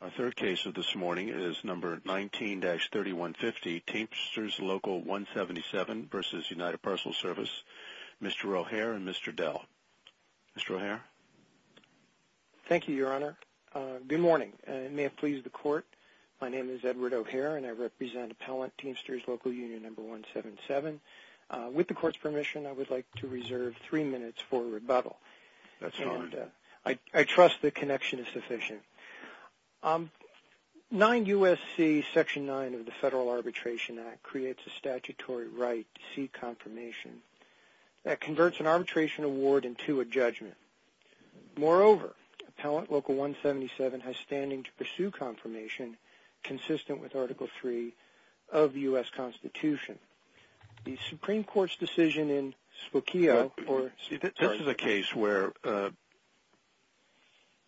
Our third case of this morning is number 19-3150, Teamsters Local177 v. United Parcel Service, Mr. O'Hare and Mr. Dell. Mr. O'Hare. Thank you, Your Honor. Good morning. May it please the Court, my name is Edward O'Hare and I represent Appellant Teamsters Local Union number 177. With the Court's permission, I would like to reserve three minutes for rebuttal. That's fine. I trust the connection is sufficient. 9 U.S.C. Section 9 of the Federal Arbitration Act creates a statutory right to seek confirmation. That converts an arbitration award into a judgment. Moreover, Appellant Local 177 has standing to pursue confirmation consistent with Article 3 of the U.S. Constitution. The Supreme Court's decision in Spokio... This is a case where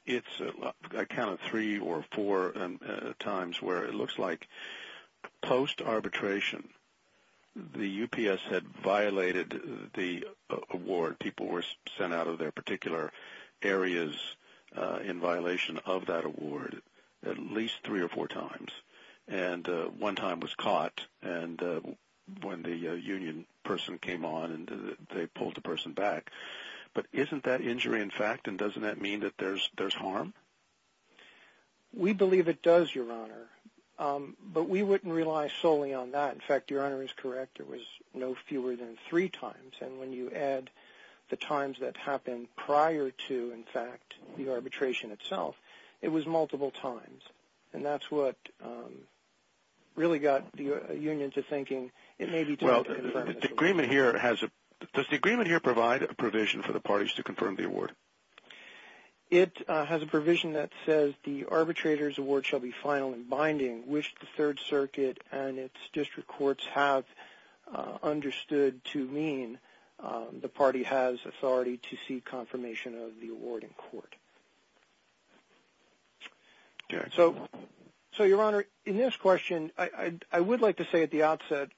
it's... I counted three or four times where it looks like post-arbitration the UPS had violated the award. People were sent out of their particular areas in violation of that award at least three or four times. One time was caught when the union person came on and they pulled the person back. But isn't that injury in fact and doesn't that mean that there's harm? We believe it does, Your Honor. But we wouldn't rely solely on that. In fact, Your Honor is correct. It was no fewer than three times. And when you add the times that happened prior to, in fact, the arbitration itself, it was multiple times. And that's what really got the union to thinking it may be time to confirm this award. Does the agreement here provide a provision for the parties to confirm the award? It has a provision that says the arbitrator's award shall be final and binding, which the Third Circuit and its district courts have understood to mean the party has authority to seek confirmation of the award in court. So, Your Honor, in this question, I would like to say at the outset,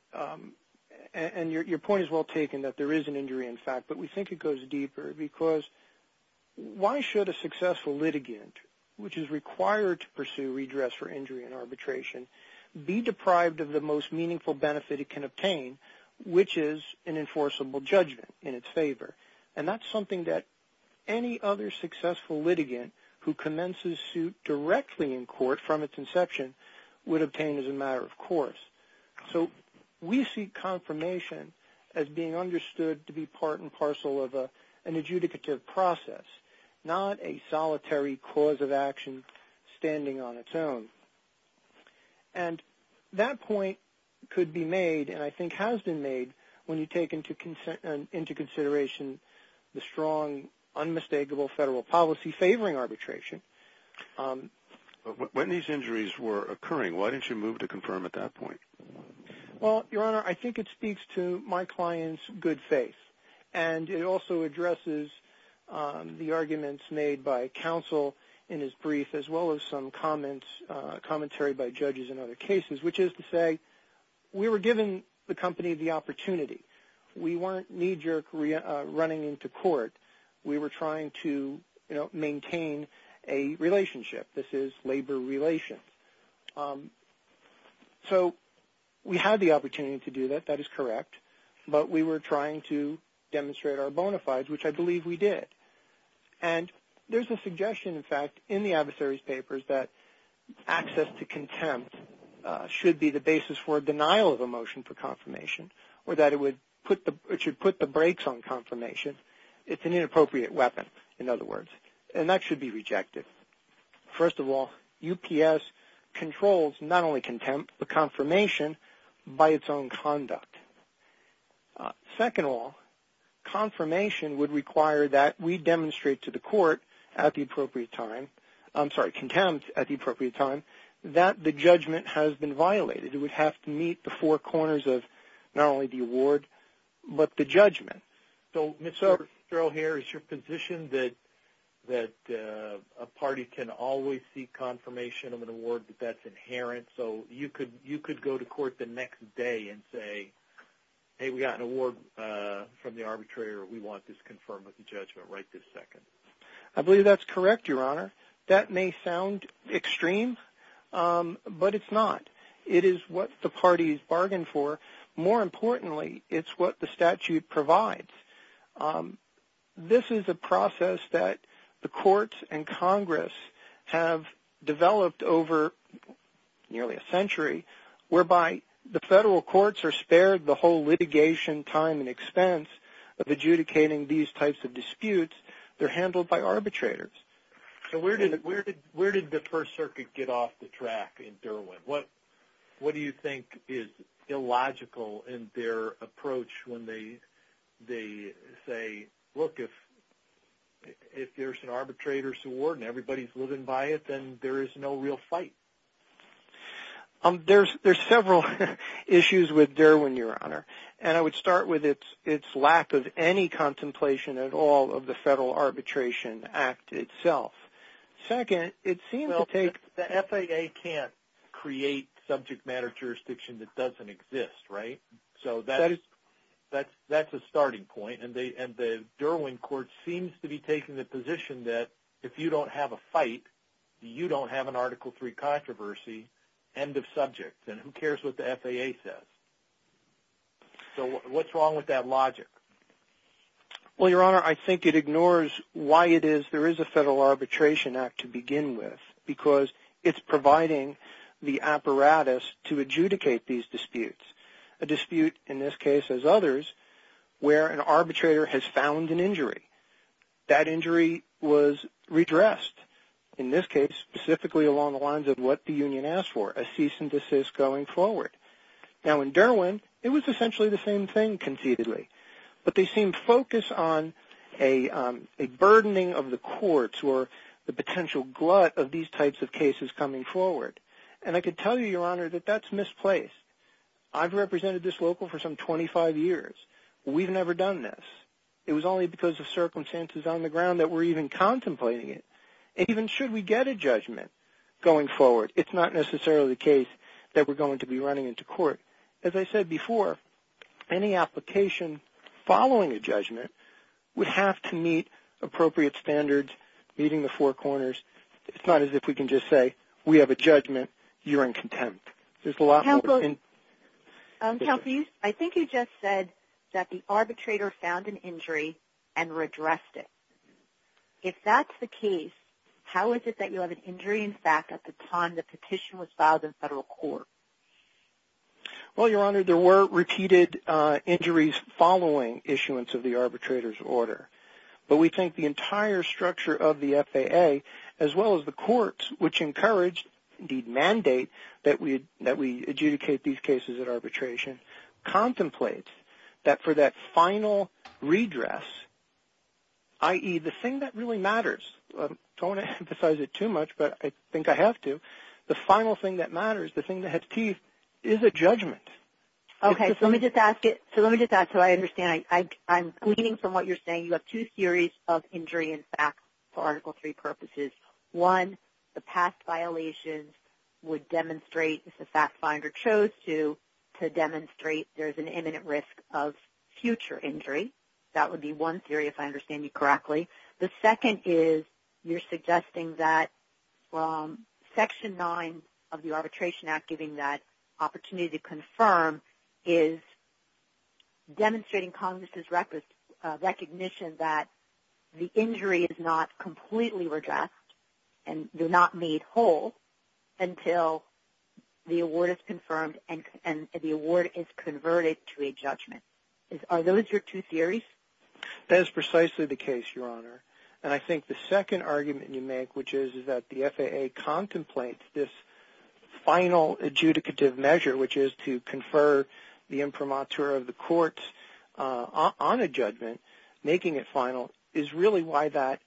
and your point is well taken that there is an injury in fact, but we think it goes deeper. Because why should a successful litigant, which is required to pursue redress for injury in arbitration, be deprived of the most meaningful benefit it can obtain, which is an enforceable judgment in its favor? And that's something that any other successful litigant who commences suit directly in court from its inception would obtain as a matter of course. So we see confirmation as being understood to be part and parcel of an adjudicative process, not a solitary cause of action standing on its own. And that point could be made, and I think has been made, when you take into consideration the strong, unmistakable federal policy favoring arbitration. When these injuries were occurring, why didn't you move to confirm at that point? Well, Your Honor, I think it speaks to my client's good faith. And it also addresses the arguments made by counsel in his brief as well as some commentary by judges in other cases, which is to say we were giving the company the opportunity. We weren't knee-jerk running into court. We were trying to maintain a relationship. This is labor relations. So we had the opportunity to do that. That is correct. But we were trying to demonstrate our bona fides, which I believe we did. And there's a suggestion, in fact, in the adversary's papers that access to contempt should be the basis for a denial of a motion for confirmation or that it should put the brakes on confirmation. It's an inappropriate weapon, in other words, and that should be rejected. First of all, UPS controls not only contempt but confirmation by its own conduct. Second of all, confirmation would require that we demonstrate to the court at the appropriate time, I'm sorry, contempt at the appropriate time, that the judgment has been violated. It would have to meet the four corners of not only the award but the judgment. So, Mr. O'Hare, is your position that a party can always seek confirmation of an award, that that's inherent, so you could go to court the next day and say, hey, we got an award from the arbitrator. We want this confirmed with the judgment right this second? I believe that's correct, Your Honor. That may sound extreme, but it's not. It is what the party has bargained for. More importantly, it's what the statute provides. This is a process that the courts and Congress have developed over nearly a century, whereby the federal courts are spared the whole litigation time and expense of adjudicating these types of disputes. They're handled by arbitrators. So where did the First Circuit get off the track in Derwin? What do you think is illogical in their approach when they say, look, if there's an arbitrator's award and everybody's living by it, then there is no real fight? There's several issues with Derwin, Your Honor, and I would start with its lack of any contemplation at all of the Federal Arbitration Act itself. Well, the FAA can't create subject matter jurisdiction that doesn't exist, right? So that's a starting point, and the Derwin court seems to be taking the position that if you don't have a fight, you don't have an Article III controversy, end of subject, and who cares what the FAA says. So what's wrong with that logic? Well, Your Honor, I think it ignores why it is there is a Federal Arbitration Act to begin with, because it's providing the apparatus to adjudicate these disputes, a dispute, in this case, as others, where an arbitrator has found an injury. That injury was redressed, in this case, specifically along the lines of what the union asked for, a cease and desist going forward. Now, in Derwin, it was essentially the same thing, conceitedly, but they seemed focused on a burdening of the courts or the potential glut of these types of cases coming forward, and I could tell you, Your Honor, that that's misplaced. I've represented this local for some 25 years. We've never done this. It was only because of circumstances on the ground that we're even contemplating it. Even should we get a judgment going forward, it's not necessarily the case that we're going to be running into court. As I said before, any application following a judgment would have to meet appropriate standards, meeting the four corners. It's not as if we can just say, we have a judgment, you're in contempt. There's a lot more than that. Counsel, I think you just said that the arbitrator found an injury and redressed it. If that's the case, how is it that you have an injury, in fact, at the time the petition was filed in federal court? Well, Your Honor, there were repeated injuries following issuance of the arbitrator's order, but we think the entire structure of the FAA, as well as the courts, which encouraged, indeed mandate, that we adjudicate these cases at arbitration, contemplates that for that final redress, i.e., the thing that really matters. I don't want to emphasize it too much, but I think I have to. The final thing that matters, the thing that has teeth, is a judgment. Okay, so let me just ask it so I understand. I'm gleaning from what you're saying. You have two theories of injury, in fact, for Article III purposes. One, the past violations would demonstrate, if the fact finder chose to, to demonstrate there's an imminent risk of future injury. That would be one theory, if I understand you correctly. The second is you're suggesting that from Section 9 of the Arbitration Act, giving that opportunity to confirm, is demonstrating Congress's recognition that the injury is not completely redressed and do not need hold until the award is confirmed and the award is converted to a judgment. Are those your two theories? That is precisely the case, Your Honor. I think the second argument you make, which is that the FAA contemplates this final adjudicative measure, which is to confer the imprimatur of the courts on a judgment, making it final, is really why that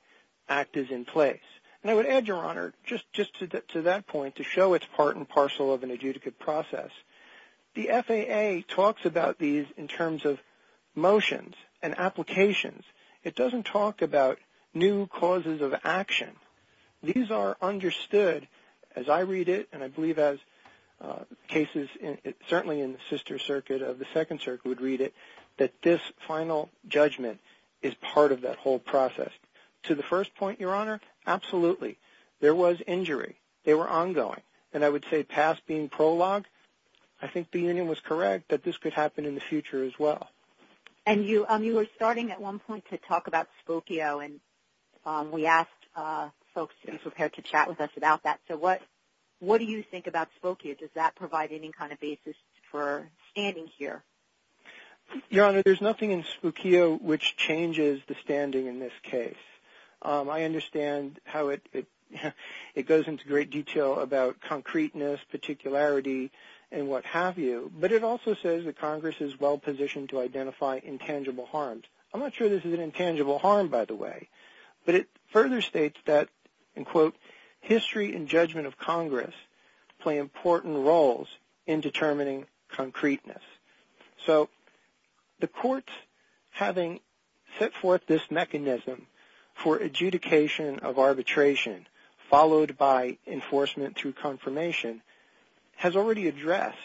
act is in place. And I would add, Your Honor, just to that point, to show it's part and parcel of an adjudicative process, the FAA talks about these in terms of motions and applications. It doesn't talk about new causes of action. These are understood, as I read it, and I believe as cases certainly in the sister circuit of the Second Circuit would read it, that this final judgment is part of that whole process. To the first point, Your Honor, absolutely. There was injury. They were ongoing. And I would say past being prologue, I think the union was correct that this could happen in the future as well. And you were starting at one point to talk about Spokio, and we asked folks to be prepared to chat with us about that. So what do you think about Spokio? Does that provide any kind of basis for standing here? Your Honor, there's nothing in Spokio which changes the standing in this case. I understand how it goes into great detail about concreteness, particularity, and what have you, but it also says that Congress is well positioned to identify intangible harms. I'm not sure this is an intangible harm, by the way, but it further states that, and quote, history and judgment of Congress play important roles in determining concreteness. So the courts, having set forth this mechanism for adjudication of arbitration, followed by enforcement through confirmation, has already addressed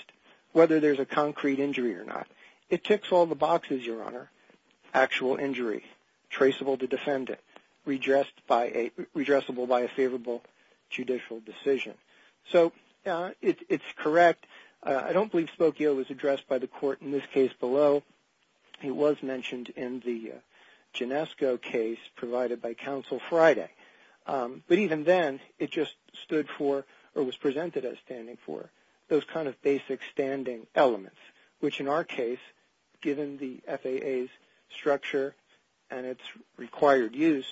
whether there's a concrete injury or not. It ticks all the boxes, Your Honor. Actual injury, traceable to defendant, redressable by a favorable judicial decision. So it's correct. I don't believe Spokio was addressed by the court in this case below. He was mentioned in the Ginesco case provided by Counsel Friday. But even then, it just stood for, or was presented as standing for, those kind of basic standing elements, which in our case, given the FAA's structure and its required use,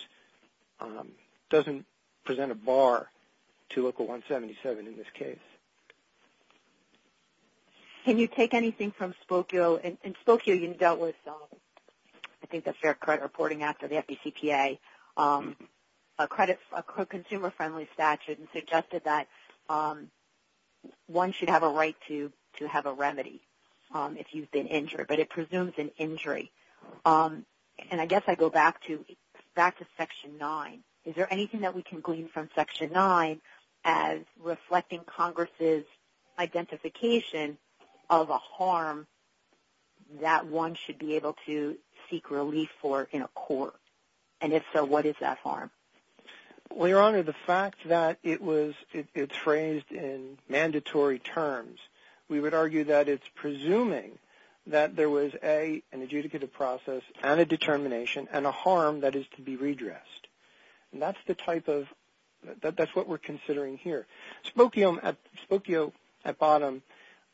doesn't present a bar to Local 177 in this case. Can you take anything from Spokio? So in Spokio, you dealt with, I think, the Fair Credit Reporting Act or the FDCPA, a consumer-friendly statute and suggested that one should have a right to have a remedy if you've been injured, but it presumes an injury. And I guess I go back to Section 9. Is there anything that we can glean from Section 9 as reflecting Congress' identification of a harm that one should be able to seek relief for in a court? And if so, what is that harm? Well, Your Honor, the fact that it's phrased in mandatory terms, we would argue that it's presuming that there was, A, an adjudicative process and a determination and a harm that is to be redressed. That's what we're considering here. Spokio, at bottom,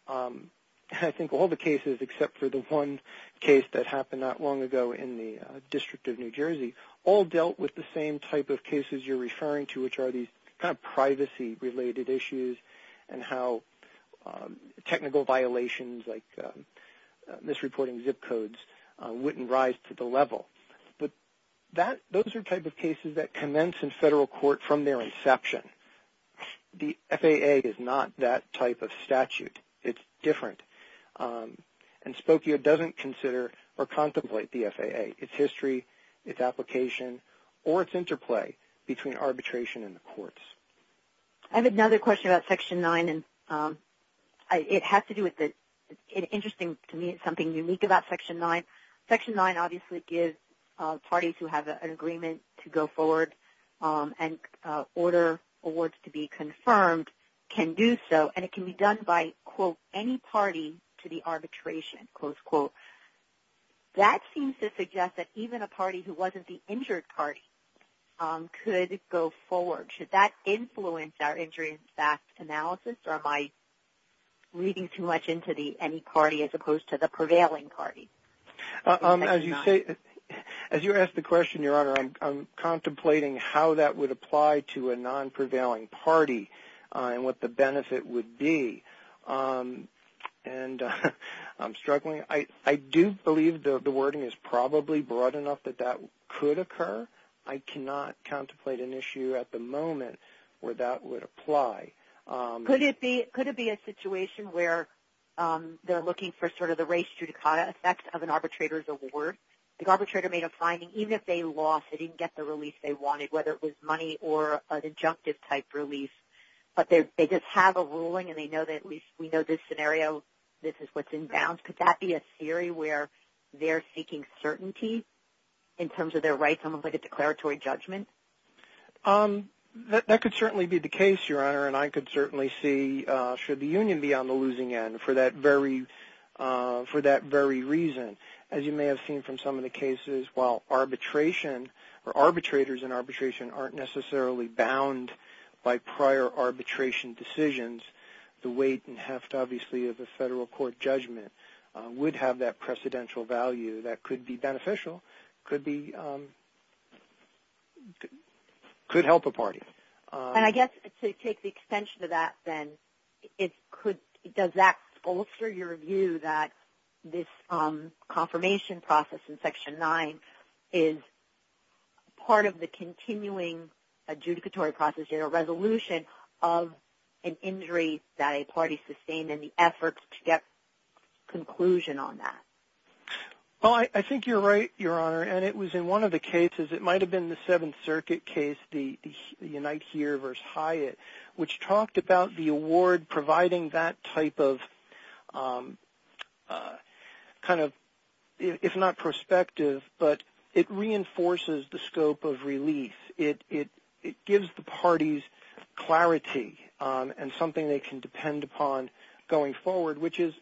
I think all the cases, except for the one case that happened not long ago in the District of New Jersey, all dealt with the same type of cases you're referring to, which are these kind of privacy-related issues and how technical violations like misreporting zip codes wouldn't rise to the level. Those are type of cases that commence in federal court from their inception. The FAA is not that type of statute. It's different. And Spokio doesn't consider or contemplate the FAA, its history, its application, or its interplay between arbitration and the courts. I have another question about Section 9. It has to do with the – interesting to me, it's something unique about Section 9. Section 9 obviously gives parties who have an agreement to go forward and order awards to be confirmed can do so, and it can be done by, quote, any party to the arbitration, close quote. That seems to suggest that even a party who wasn't the injured party could go forward. Should that influence our injury-backed analysis, or am I reading too much into any party as opposed to the prevailing party? As you ask the question, Your Honor, I'm contemplating how that would apply to a non-prevailing party and what the benefit would be, and I'm struggling. I do believe the wording is probably broad enough that that could occur. I cannot contemplate an issue at the moment where that would apply. Could it be a situation where they're looking for sort of the race judicata effect of an arbitrator's award? The arbitrator made a finding, even if they lost, they didn't get the release they wanted, whether it was money or an injunctive-type release, but they just have a ruling and they know that at least we know this scenario, this is what's in bounds. Could that be a theory where they're seeking certainty in terms of their rights, almost like a declaratory judgment? That could certainly be the case, Your Honor, and I could certainly see should the union be on the losing end for that very reason. As you may have seen from some of the cases, while arbitration or arbitrators in arbitration aren't necessarily bound by prior arbitration decisions, the weight and heft, obviously, of a federal court judgment would have that precedential value. That could be beneficial, could help a party. And I guess to take the extension of that then, does that bolster your view that this confirmation process in Section 9 is part of the continuing adjudicatory process, of an injury that a party sustained in the efforts to get conclusion on that? Well, I think you're right, Your Honor, and it was in one of the cases, it might have been the Seventh Circuit case, the Unite Here v. Hyatt, which talked about the award providing that type of kind of, if not prospective, but it reinforces the scope of release. It gives the parties clarity and something they can depend upon going forward, which is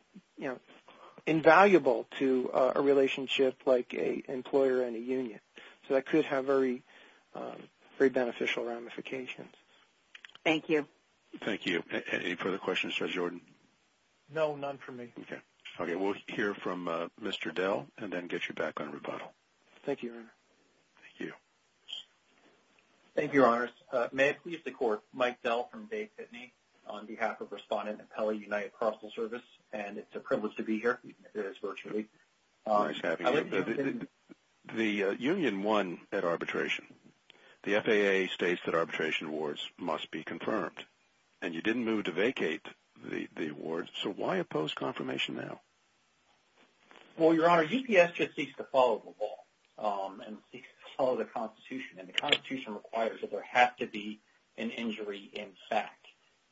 invaluable to a relationship like an employer and a union. So that could have very beneficial ramifications. Thank you. Thank you. Any further questions for Jordan? No, none for me. Okay, we'll hear from Mr. Dell and then get you back on rebuttal. Thank you, Your Honor. Thank you. Thank you, Your Honors. May it please the Court, Mike Dell from Dave Pitney, on behalf of Respondent and Appellee United Carceral Service, and it's a privilege to be here. It is virtually. Nice having you. The union won at arbitration. The FAA states that arbitration awards must be confirmed, and you didn't move to vacate the award, so why oppose confirmation now? Well, Your Honor, UPS just seeks to follow the law and follow the Constitution, and the Constitution requires that there have to be an injury in fact.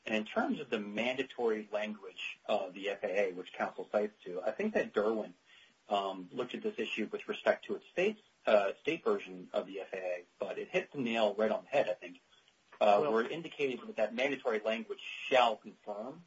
And in terms of the mandatory language of the FAA, which counsel cites, too, I think that Derwin looked at this issue with respect to its state version of the FAA, but it hit the nail right on the head, I think, where it indicated that that mandatory language shall confirm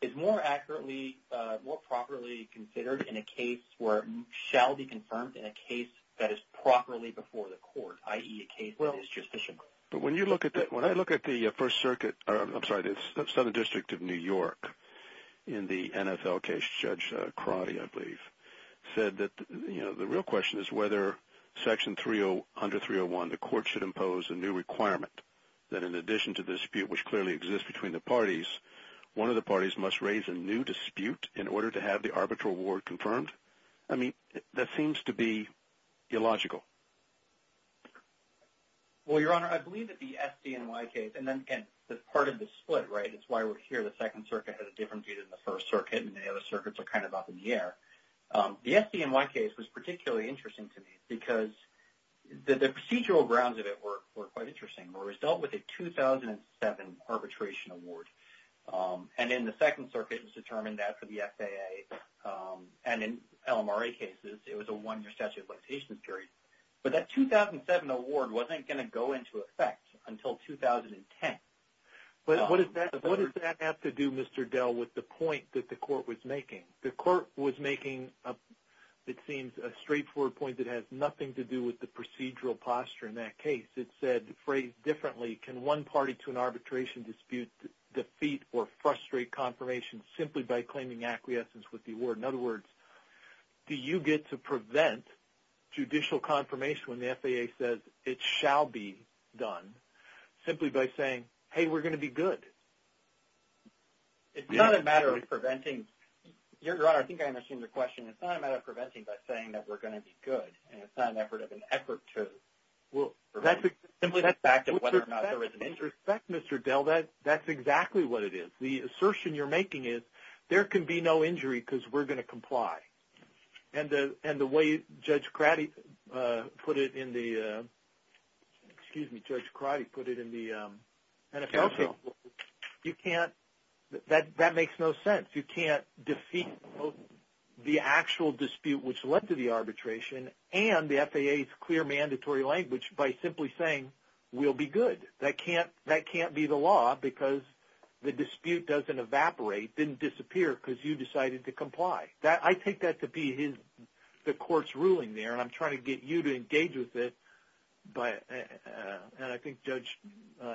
is more accurately, more properly considered in a case where it shall be confirmed in a case that is properly before the court, i.e. a case that is justiciable. But when you look at that, when I look at the First Circuit, I'm sorry, the Southern District of New York in the NFL case, Judge Crotty, I believe, said that the real question is whether Section 301, the court should impose a new requirement that in addition to the dispute which clearly exists between the parties, one of the parties must raise a new dispute in order to have the arbitral award confirmed. I mean, that seems to be illogical. Well, Your Honor, I believe that the SDNY case, and part of the split, right, it's why we're here, the Second Circuit has a different view than the First Circuit, and the other circuits are kind of up in the air. The SDNY case was particularly interesting to me because the procedural grounds of it were quite interesting. The result was a 2007 arbitration award. And in the Second Circuit, it was determined that for the FAA and in LMRA cases, it was a one-year statute of limitations period. But that 2007 award wasn't going to go into effect until 2010. What does that have to do, Mr. Dell, with the point that the court was making? The court was making, it seems, a straightforward point that has nothing to do with the procedural posture in that case. It said, phrased differently, can one party to an arbitration dispute defeat or frustrate confirmation simply by claiming acquiescence with the award? In other words, do you get to prevent judicial confirmation when the FAA says it shall be done simply by saying, hey, we're going to be good? It's not a matter of preventing. Your Honor, I think I understand your question. It's not a matter of preventing by saying that we're going to be good, and it's not an effort of an effort to prevent. Simply that's back to whether or not there is an interest. With respect, Mr. Dell, that's exactly what it is. The assertion you're making is there can be no injury because we're going to comply. And the way Judge Crotty put it in the NFL case, you can't – that makes no sense. You can't defeat the actual dispute which led to the arbitration and the FAA's clear mandatory language by simply saying we'll be good. That can't be the law because the dispute doesn't evaporate, didn't disappear because you decided to comply. I take that to be the court's ruling there, and I'm trying to get you to engage with it, and I think Judge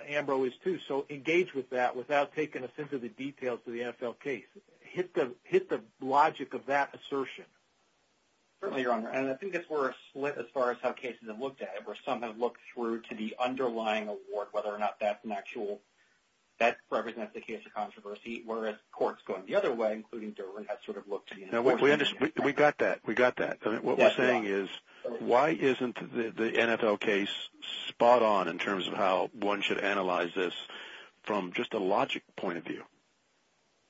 Ambrose, too. So engage with that without taking a sense of the details of the NFL case. Hit the logic of that assertion. Certainly, Your Honor. And I think that's where it's split as far as how cases have looked at it, where some have looked through to the underlying award, whether or not that's an actual – that represents the case of controversy, whereas courts going the other way, including Durham, have sort of looked to the NFL case. We got that. We got that. What we're saying is why isn't the NFL case spot on in terms of how one should analyze this from just a logic point of view?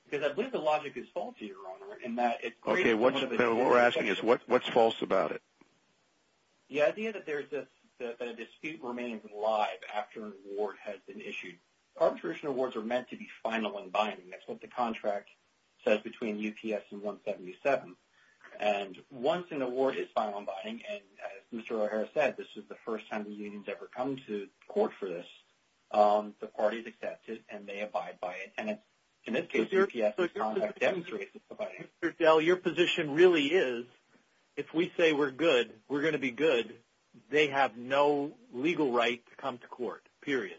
Because I believe the logic is false, Your Honor, in that it creates – Okay. What we're asking is what's false about it? The idea that a dispute remains alive after an award has been issued. Arbitration awards are meant to be final and binding. That's what the contract says between UPS and 177. And once an award is final and binding, and as Mr. O'Hara said, this is the first time the union's ever come to court for this, the party's accepted and they abide by it. And in this case, UPS' contract demonstrates it's abiding. Mr. Dell, your position really is if we say we're good, we're going to be good, they have no legal right to come to court, period.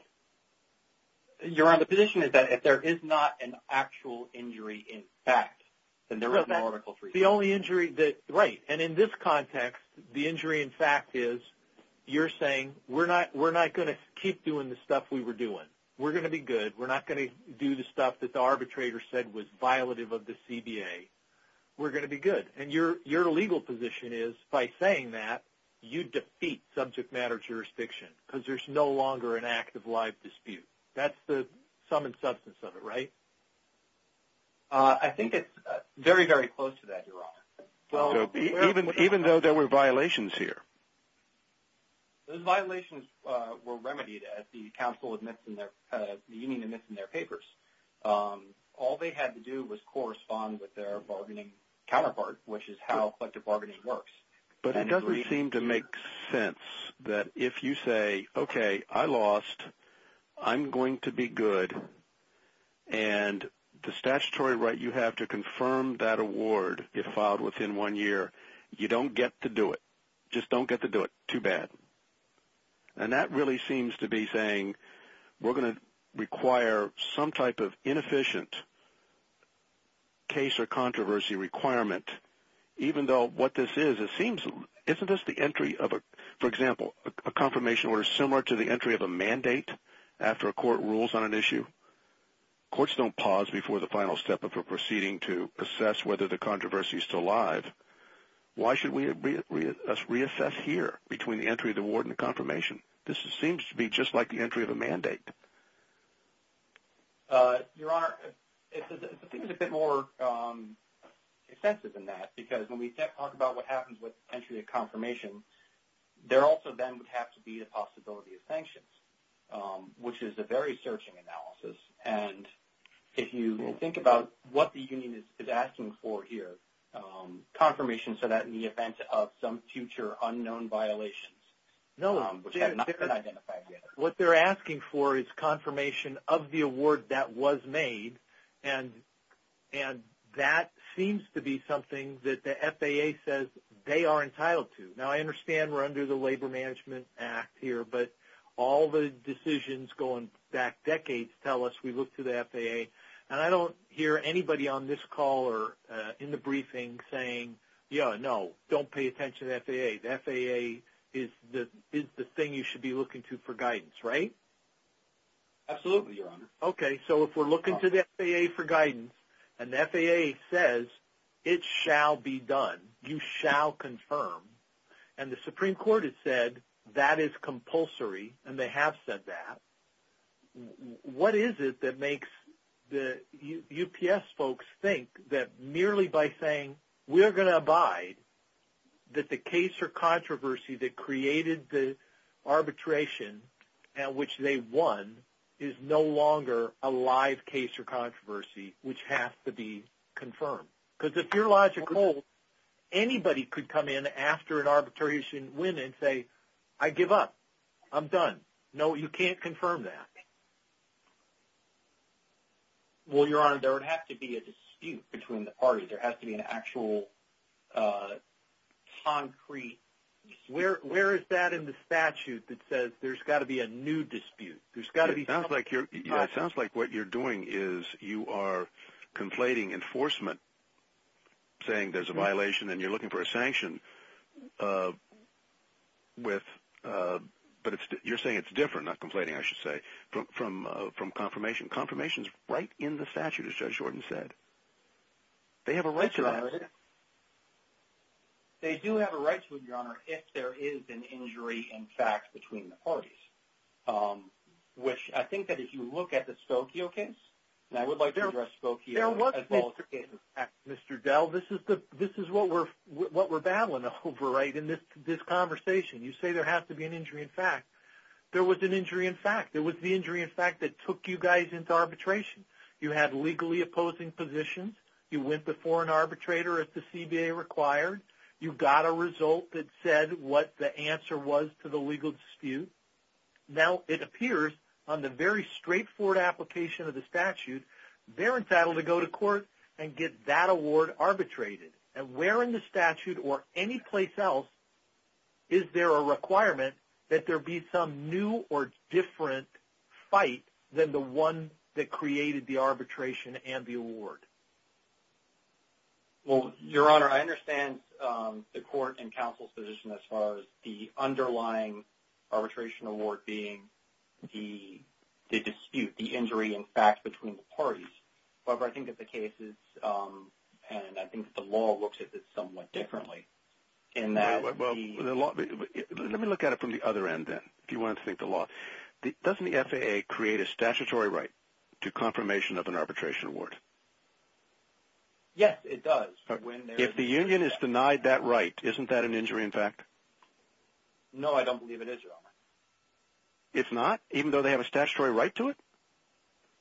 Your Honor, the position is that if there is not an actual injury in fact, then there is no article for you. The only injury that – right. And in this context, the injury in fact is you're saying we're not going to keep doing the stuff we were doing. We're going to be good. We're not going to do the stuff that the arbitrator said was violative of the CBA. We're going to be good. And your legal position is by saying that, you defeat subject matter jurisdiction because there's no longer an act of live dispute. That's the sum and substance of it, right? I think it's very, very close to that, your Honor. Even though there were violations here? Those violations were remedied as the council admits in their – the union admits in their papers. All they had to do was correspond with their bargaining counterpart, which is how collective bargaining works. But it doesn't seem to make sense that if you say, okay, I lost, I'm going to be good, and the statutory right you have to confirm that award if filed within one year, you don't get to do it. You just don't get to do it. Too bad. And that really seems to be saying we're going to require some type of inefficient case or controversy requirement even though what this is, it seems – isn't this the entry of a – courts don't pause before the final step of a proceeding to assess whether the controversy is still alive. Why should we reassess here between the entry of the award and the confirmation? This seems to be just like the entry of a mandate. Your Honor, the thing is a bit more extensive than that because when we talk about what happens with entry of confirmation, there also then would have to be the possibility of sanctions, which is a very searching analysis. And if you think about what the union is asking for here, confirmation so that in the event of some future unknown violations, which have not been identified yet. What they're asking for is confirmation of the award that was made, and that seems to be something that the FAA says they are entitled to. Now, I understand we're under the Labor Management Act here, but all the decisions going back decades tell us we look to the FAA. And I don't hear anybody on this call or in the briefing saying, yeah, no, don't pay attention to the FAA. The FAA is the thing you should be looking to for guidance, right? Absolutely, Your Honor. Okay, so if we're looking to the FAA for guidance and the FAA says it shall be done, you shall confirm, and the Supreme Court has said that is compulsory and they have said that, what is it that makes the UPS folks think that merely by saying we're going to abide, that the case or controversy that created the arbitration at which they won is no longer a live case or controversy which has to be confirmed? Because if you're logical, anybody could come in after an arbitration win and say, I give up. I'm done. No, you can't confirm that. Well, Your Honor, there would have to be a dispute between the parties. There has to be an actual concrete dispute. Where is that in the statute that says there's got to be a new dispute? It sounds like what you're doing is you are conflating enforcement, saying there's a violation and you're looking for a sanction, but you're saying it's different, not conflating, I should say, from confirmation. Confirmation is right in the statute, as Judge Jordan said. They have a right to it. They do have a right to it, Your Honor, if there is an injury in fact between the parties, which I think that if you look at the Spokio case, and I would like to address Spokio as well. Mr. Dell, this is what we're battling over in this conversation. You say there has to be an injury in fact. There was an injury in fact. It was the injury in fact that took you guys into arbitration. You had legally opposing positions. You went before an arbitrator if the CBA required. You got a result that said what the answer was to the legal dispute. Now it appears on the very straightforward application of the statute, they're entitled to go to court and get that award arbitrated. And where in the statute or any place else is there a requirement that there be some new or different fight than the one that created the arbitration and the award? Well, Your Honor, I understand the court and counsel's position as far as the underlying arbitration award being the dispute, the injury in fact between the parties. However, I think that the case is, and I think the law looks at this somewhat differently. Let me look at it from the other end then if you want to think the law. Doesn't the FAA create a statutory right to confirmation of an arbitration award? Yes, it does. If the union is denied that right, isn't that an injury in fact? No, I don't believe it is, Your Honor. It's not even though they have a statutory right to it?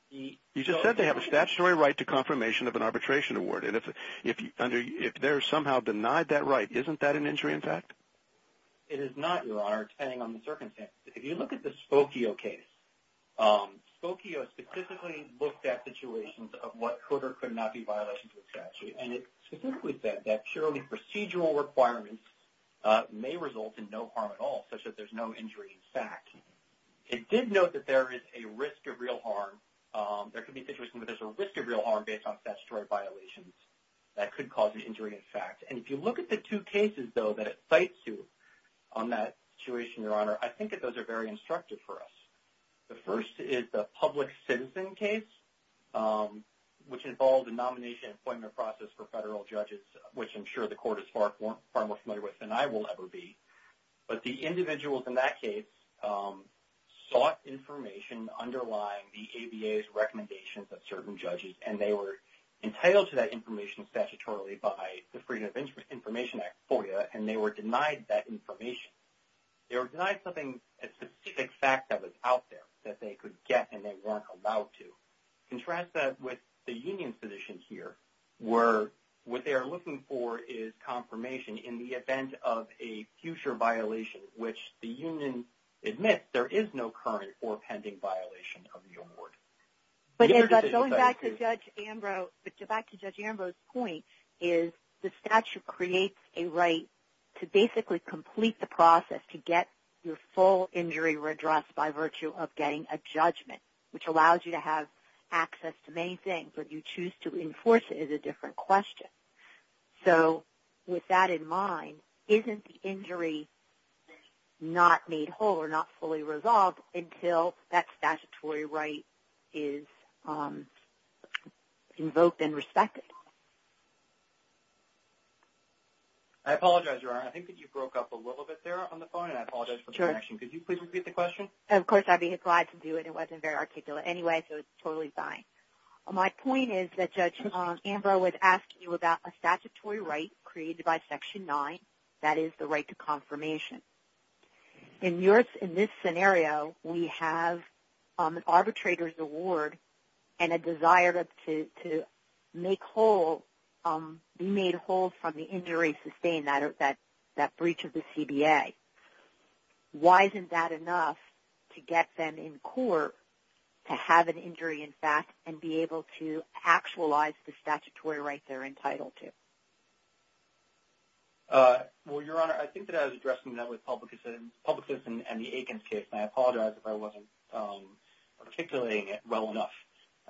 You just said they have a statutory right to confirmation of an arbitration award. If they're somehow denied that right, isn't that an injury in fact? It is not, Your Honor, depending on the circumstance. If you look at the Spokio case, Spokio specifically looked at situations of what could or could not be violations of the statute. And it specifically said that purely procedural requirements may result in no harm at all, such that there's no injury in fact. It did note that there is a risk of real harm. There could be situations where there's a risk of real harm based on statutory violations. That could cause an injury in fact. And if you look at the two cases, though, that it cites you on that situation, Your Honor, I think that those are very instructive for us. The first is the public citizen case, which involved a nomination and appointment process for federal judges, which I'm sure the court is far more familiar with than I will ever be. But the individuals in that case sought information underlying the ABA's recommendations of certain judges, and they were entitled to that information statutorily by the Freedom of Information Act FOIA, and they were denied that information. They were denied something, a specific fact that was out there that they could get and they weren't allowed to. Contrast that with the union's position here, where what they are looking for is confirmation in the event of a future violation, which the union admits there is no current or pending violation of the award. Going back to Judge Ambrose's point is the statute creates a right to basically complete the process to get your full injury redressed by virtue of getting a judgment, which allows you to have access to many things. But you choose to enforce it is a different question. So with that in mind, isn't the injury not made whole or not fully resolved until that statutory right is invoked and respected? I apologize, Your Honor. I think that you broke up a little bit there on the phone, and I apologize for the connection. Could you please repeat the question? Of course. I'd be glad to do it. It wasn't very articulate anyway, so it's totally fine. My point is that Judge Ambrose was asking you about a statutory right created by Section 9, that is the right to confirmation. In this scenario, we have an arbitrator's award and a desire to be made whole from the injury sustained, that breach of the CBA. Why isn't that enough to get them in court to have an injury in fact and be able to actualize the statutory right they're entitled to? Well, Your Honor, I think that I was addressing that with Public Citizen and the Aikens case, and I apologize if I wasn't articulating it well enough.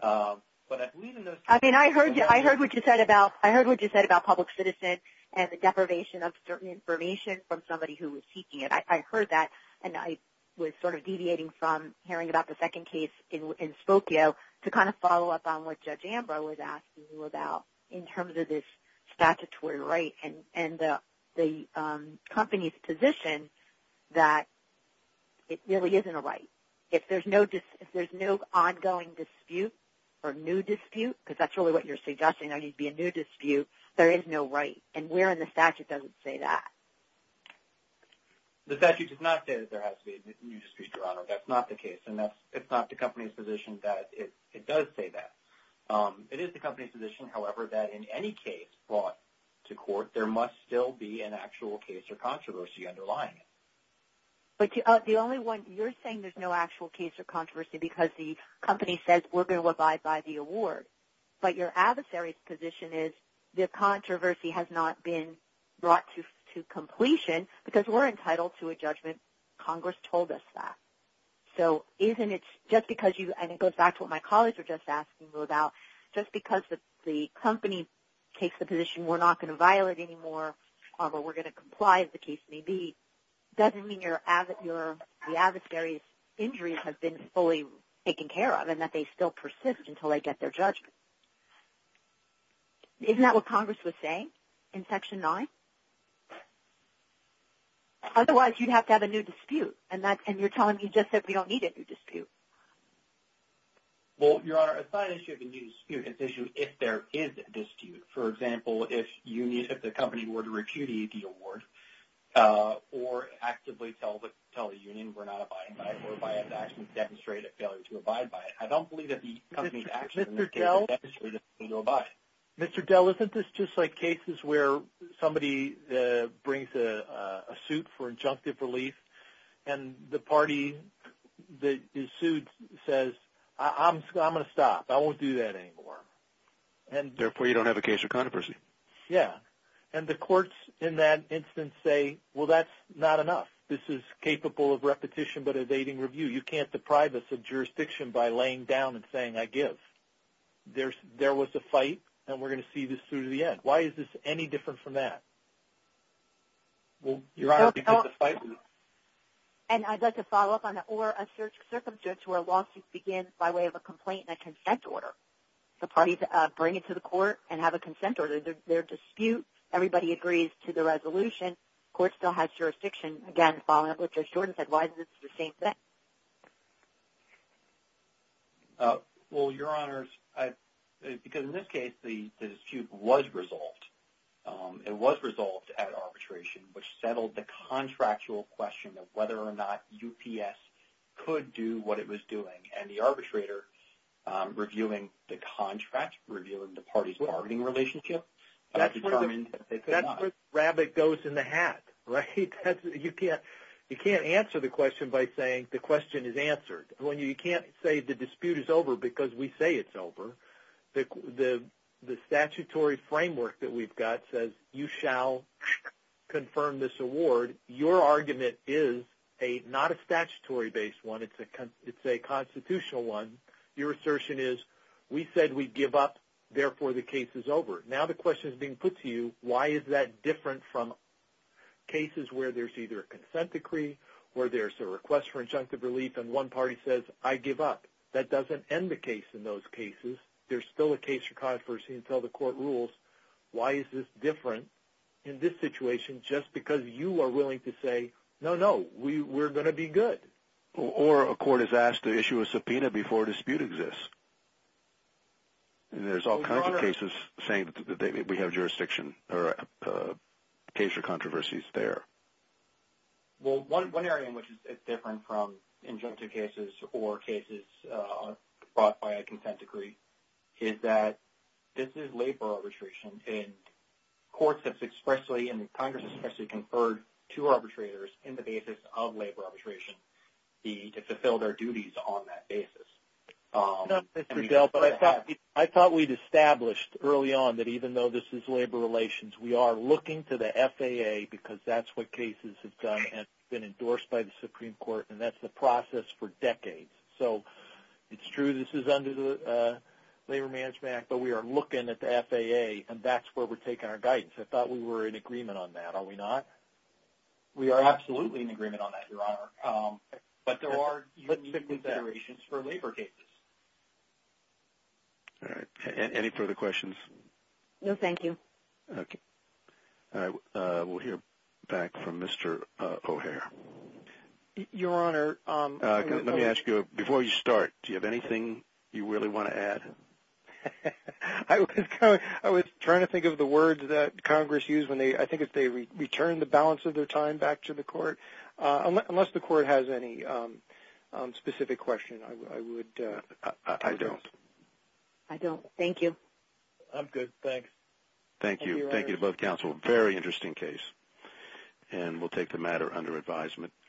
I mean, I heard what you said about Public Citizen and the deprivation of certain information from somebody who was seeking it. I heard that, and I was sort of deviating from hearing about the second case in Spokio to kind of follow up on what Judge Ambrose was asking you about in terms of this statutory right and the company's position that it really isn't a right. If there's no ongoing dispute or new dispute, because that's really what you're suggesting, there needs to be a new dispute, there is no right, and where in the statute does it say that? The statute does not say that there has to be a new dispute, Your Honor. That's not the case, and it's not the company's position that it does say that. It is the company's position, however, that in any case brought to court, there must still be an actual case or controversy underlying it. But the only one you're saying there's no actual case or controversy because the company says we're going to abide by the award, but your adversary's position is the controversy has not been brought to completion because we're entitled to a judgment. Congress told us that. So isn't it just because you, and it goes back to what my colleagues were just asking you about, just because the company takes the position we're not going to violate anymore or we're going to comply as the case may be, doesn't mean the adversary's injuries have been fully taken care of and that they still persist until they get their judgment. Isn't that what Congress was saying in Section 9? Otherwise, you'd have to have a new dispute, and you're telling me just that we don't need a new dispute. Well, Your Honor, it's not an issue of a new dispute. It's an issue if there is a dispute. For example, if the company were to repudiate the award or actively tell the union we're not abiding by it and actually demonstrate a failure to abide by it, I don't believe that the company's actions in this case demonstrate a failure to abide. Mr. Dell, isn't this just like cases where somebody brings a suit for injunctive relief and the party that is sued says, I'm going to stop. I won't do that anymore. Therefore, you don't have a case of controversy. Yeah, and the courts in that instance say, well, that's not enough. This is capable of repetition but evading review. You can't deprive us of jurisdiction by laying down and saying, I give. There was a fight, and we're going to see this through to the end. Why is this any different from that? Well, Your Honor, did you get the fight? And I'd like to follow up on that. Or a circumstance where a lawsuit begins by way of a complaint and a consent order. The parties bring it to the court and have a consent order. There's a dispute. Everybody agrees to the resolution. The court still has jurisdiction. Again, following up with Judge Jordan said, why is this the same thing? Well, Your Honors, because in this case the dispute was resolved. It was resolved at arbitration, which settled the contractual question of whether or not UPS could do what it was doing. And the arbitrator reviewing the contract, reviewing the party's bargaining relationship, that's where the rabbit goes in the hat, right? You can't answer the question by saying the question is answered. You can't say the dispute is over because we say it's over. The statutory framework that we've got says you shall confirm this award. Your argument is not a statutory-based one. It's a constitutional one. Your assertion is we said we'd give up, therefore the case is over. Now the question is being put to you, why is that different from cases where there's either a consent decree or there's a request for injunctive relief and one party says, I give up. That doesn't end the case in those cases. There's still a case for controversy until the court rules. Why is this different in this situation just because you are willing to say, no, no, we're going to be good? Or a court is asked to issue a subpoena before a dispute exists. There's all kinds of cases saying we have jurisdiction or a case for controversy is there. Well, one area in which it's different from injunctive cases or cases brought by a consent decree is that this is labor arbitration, and courts have expressly and Congress has expressly conferred to arbitrators in the basis of labor arbitration to fulfill their duties on that basis. I thought we'd established early on that even though this is labor relations, we are looking to the FAA because that's what cases have done and been endorsed by the Supreme Court and that's the process for decades. So it's true this is under the Labor Management Act, but we are looking at the FAA and that's where we're taking our guidance. I thought we were in agreement on that. Are we not? We are absolutely in agreement on that, Your Honor. But there are considerations for labor cases. All right. Any further questions? No, thank you. Okay. All right. We'll hear back from Mr. O'Hare. Your Honor. Let me ask you before you start, do you have anything you really want to add? I was trying to think of the words that Congress used when they, I think it's they return the balance of their time back to the court. Unless the court has any specific question, I would address. I don't. I don't. Thank you. I'm good. Thanks. Thank you. Thank you to both counsel. Very interesting case. And we'll take the matter under advisement.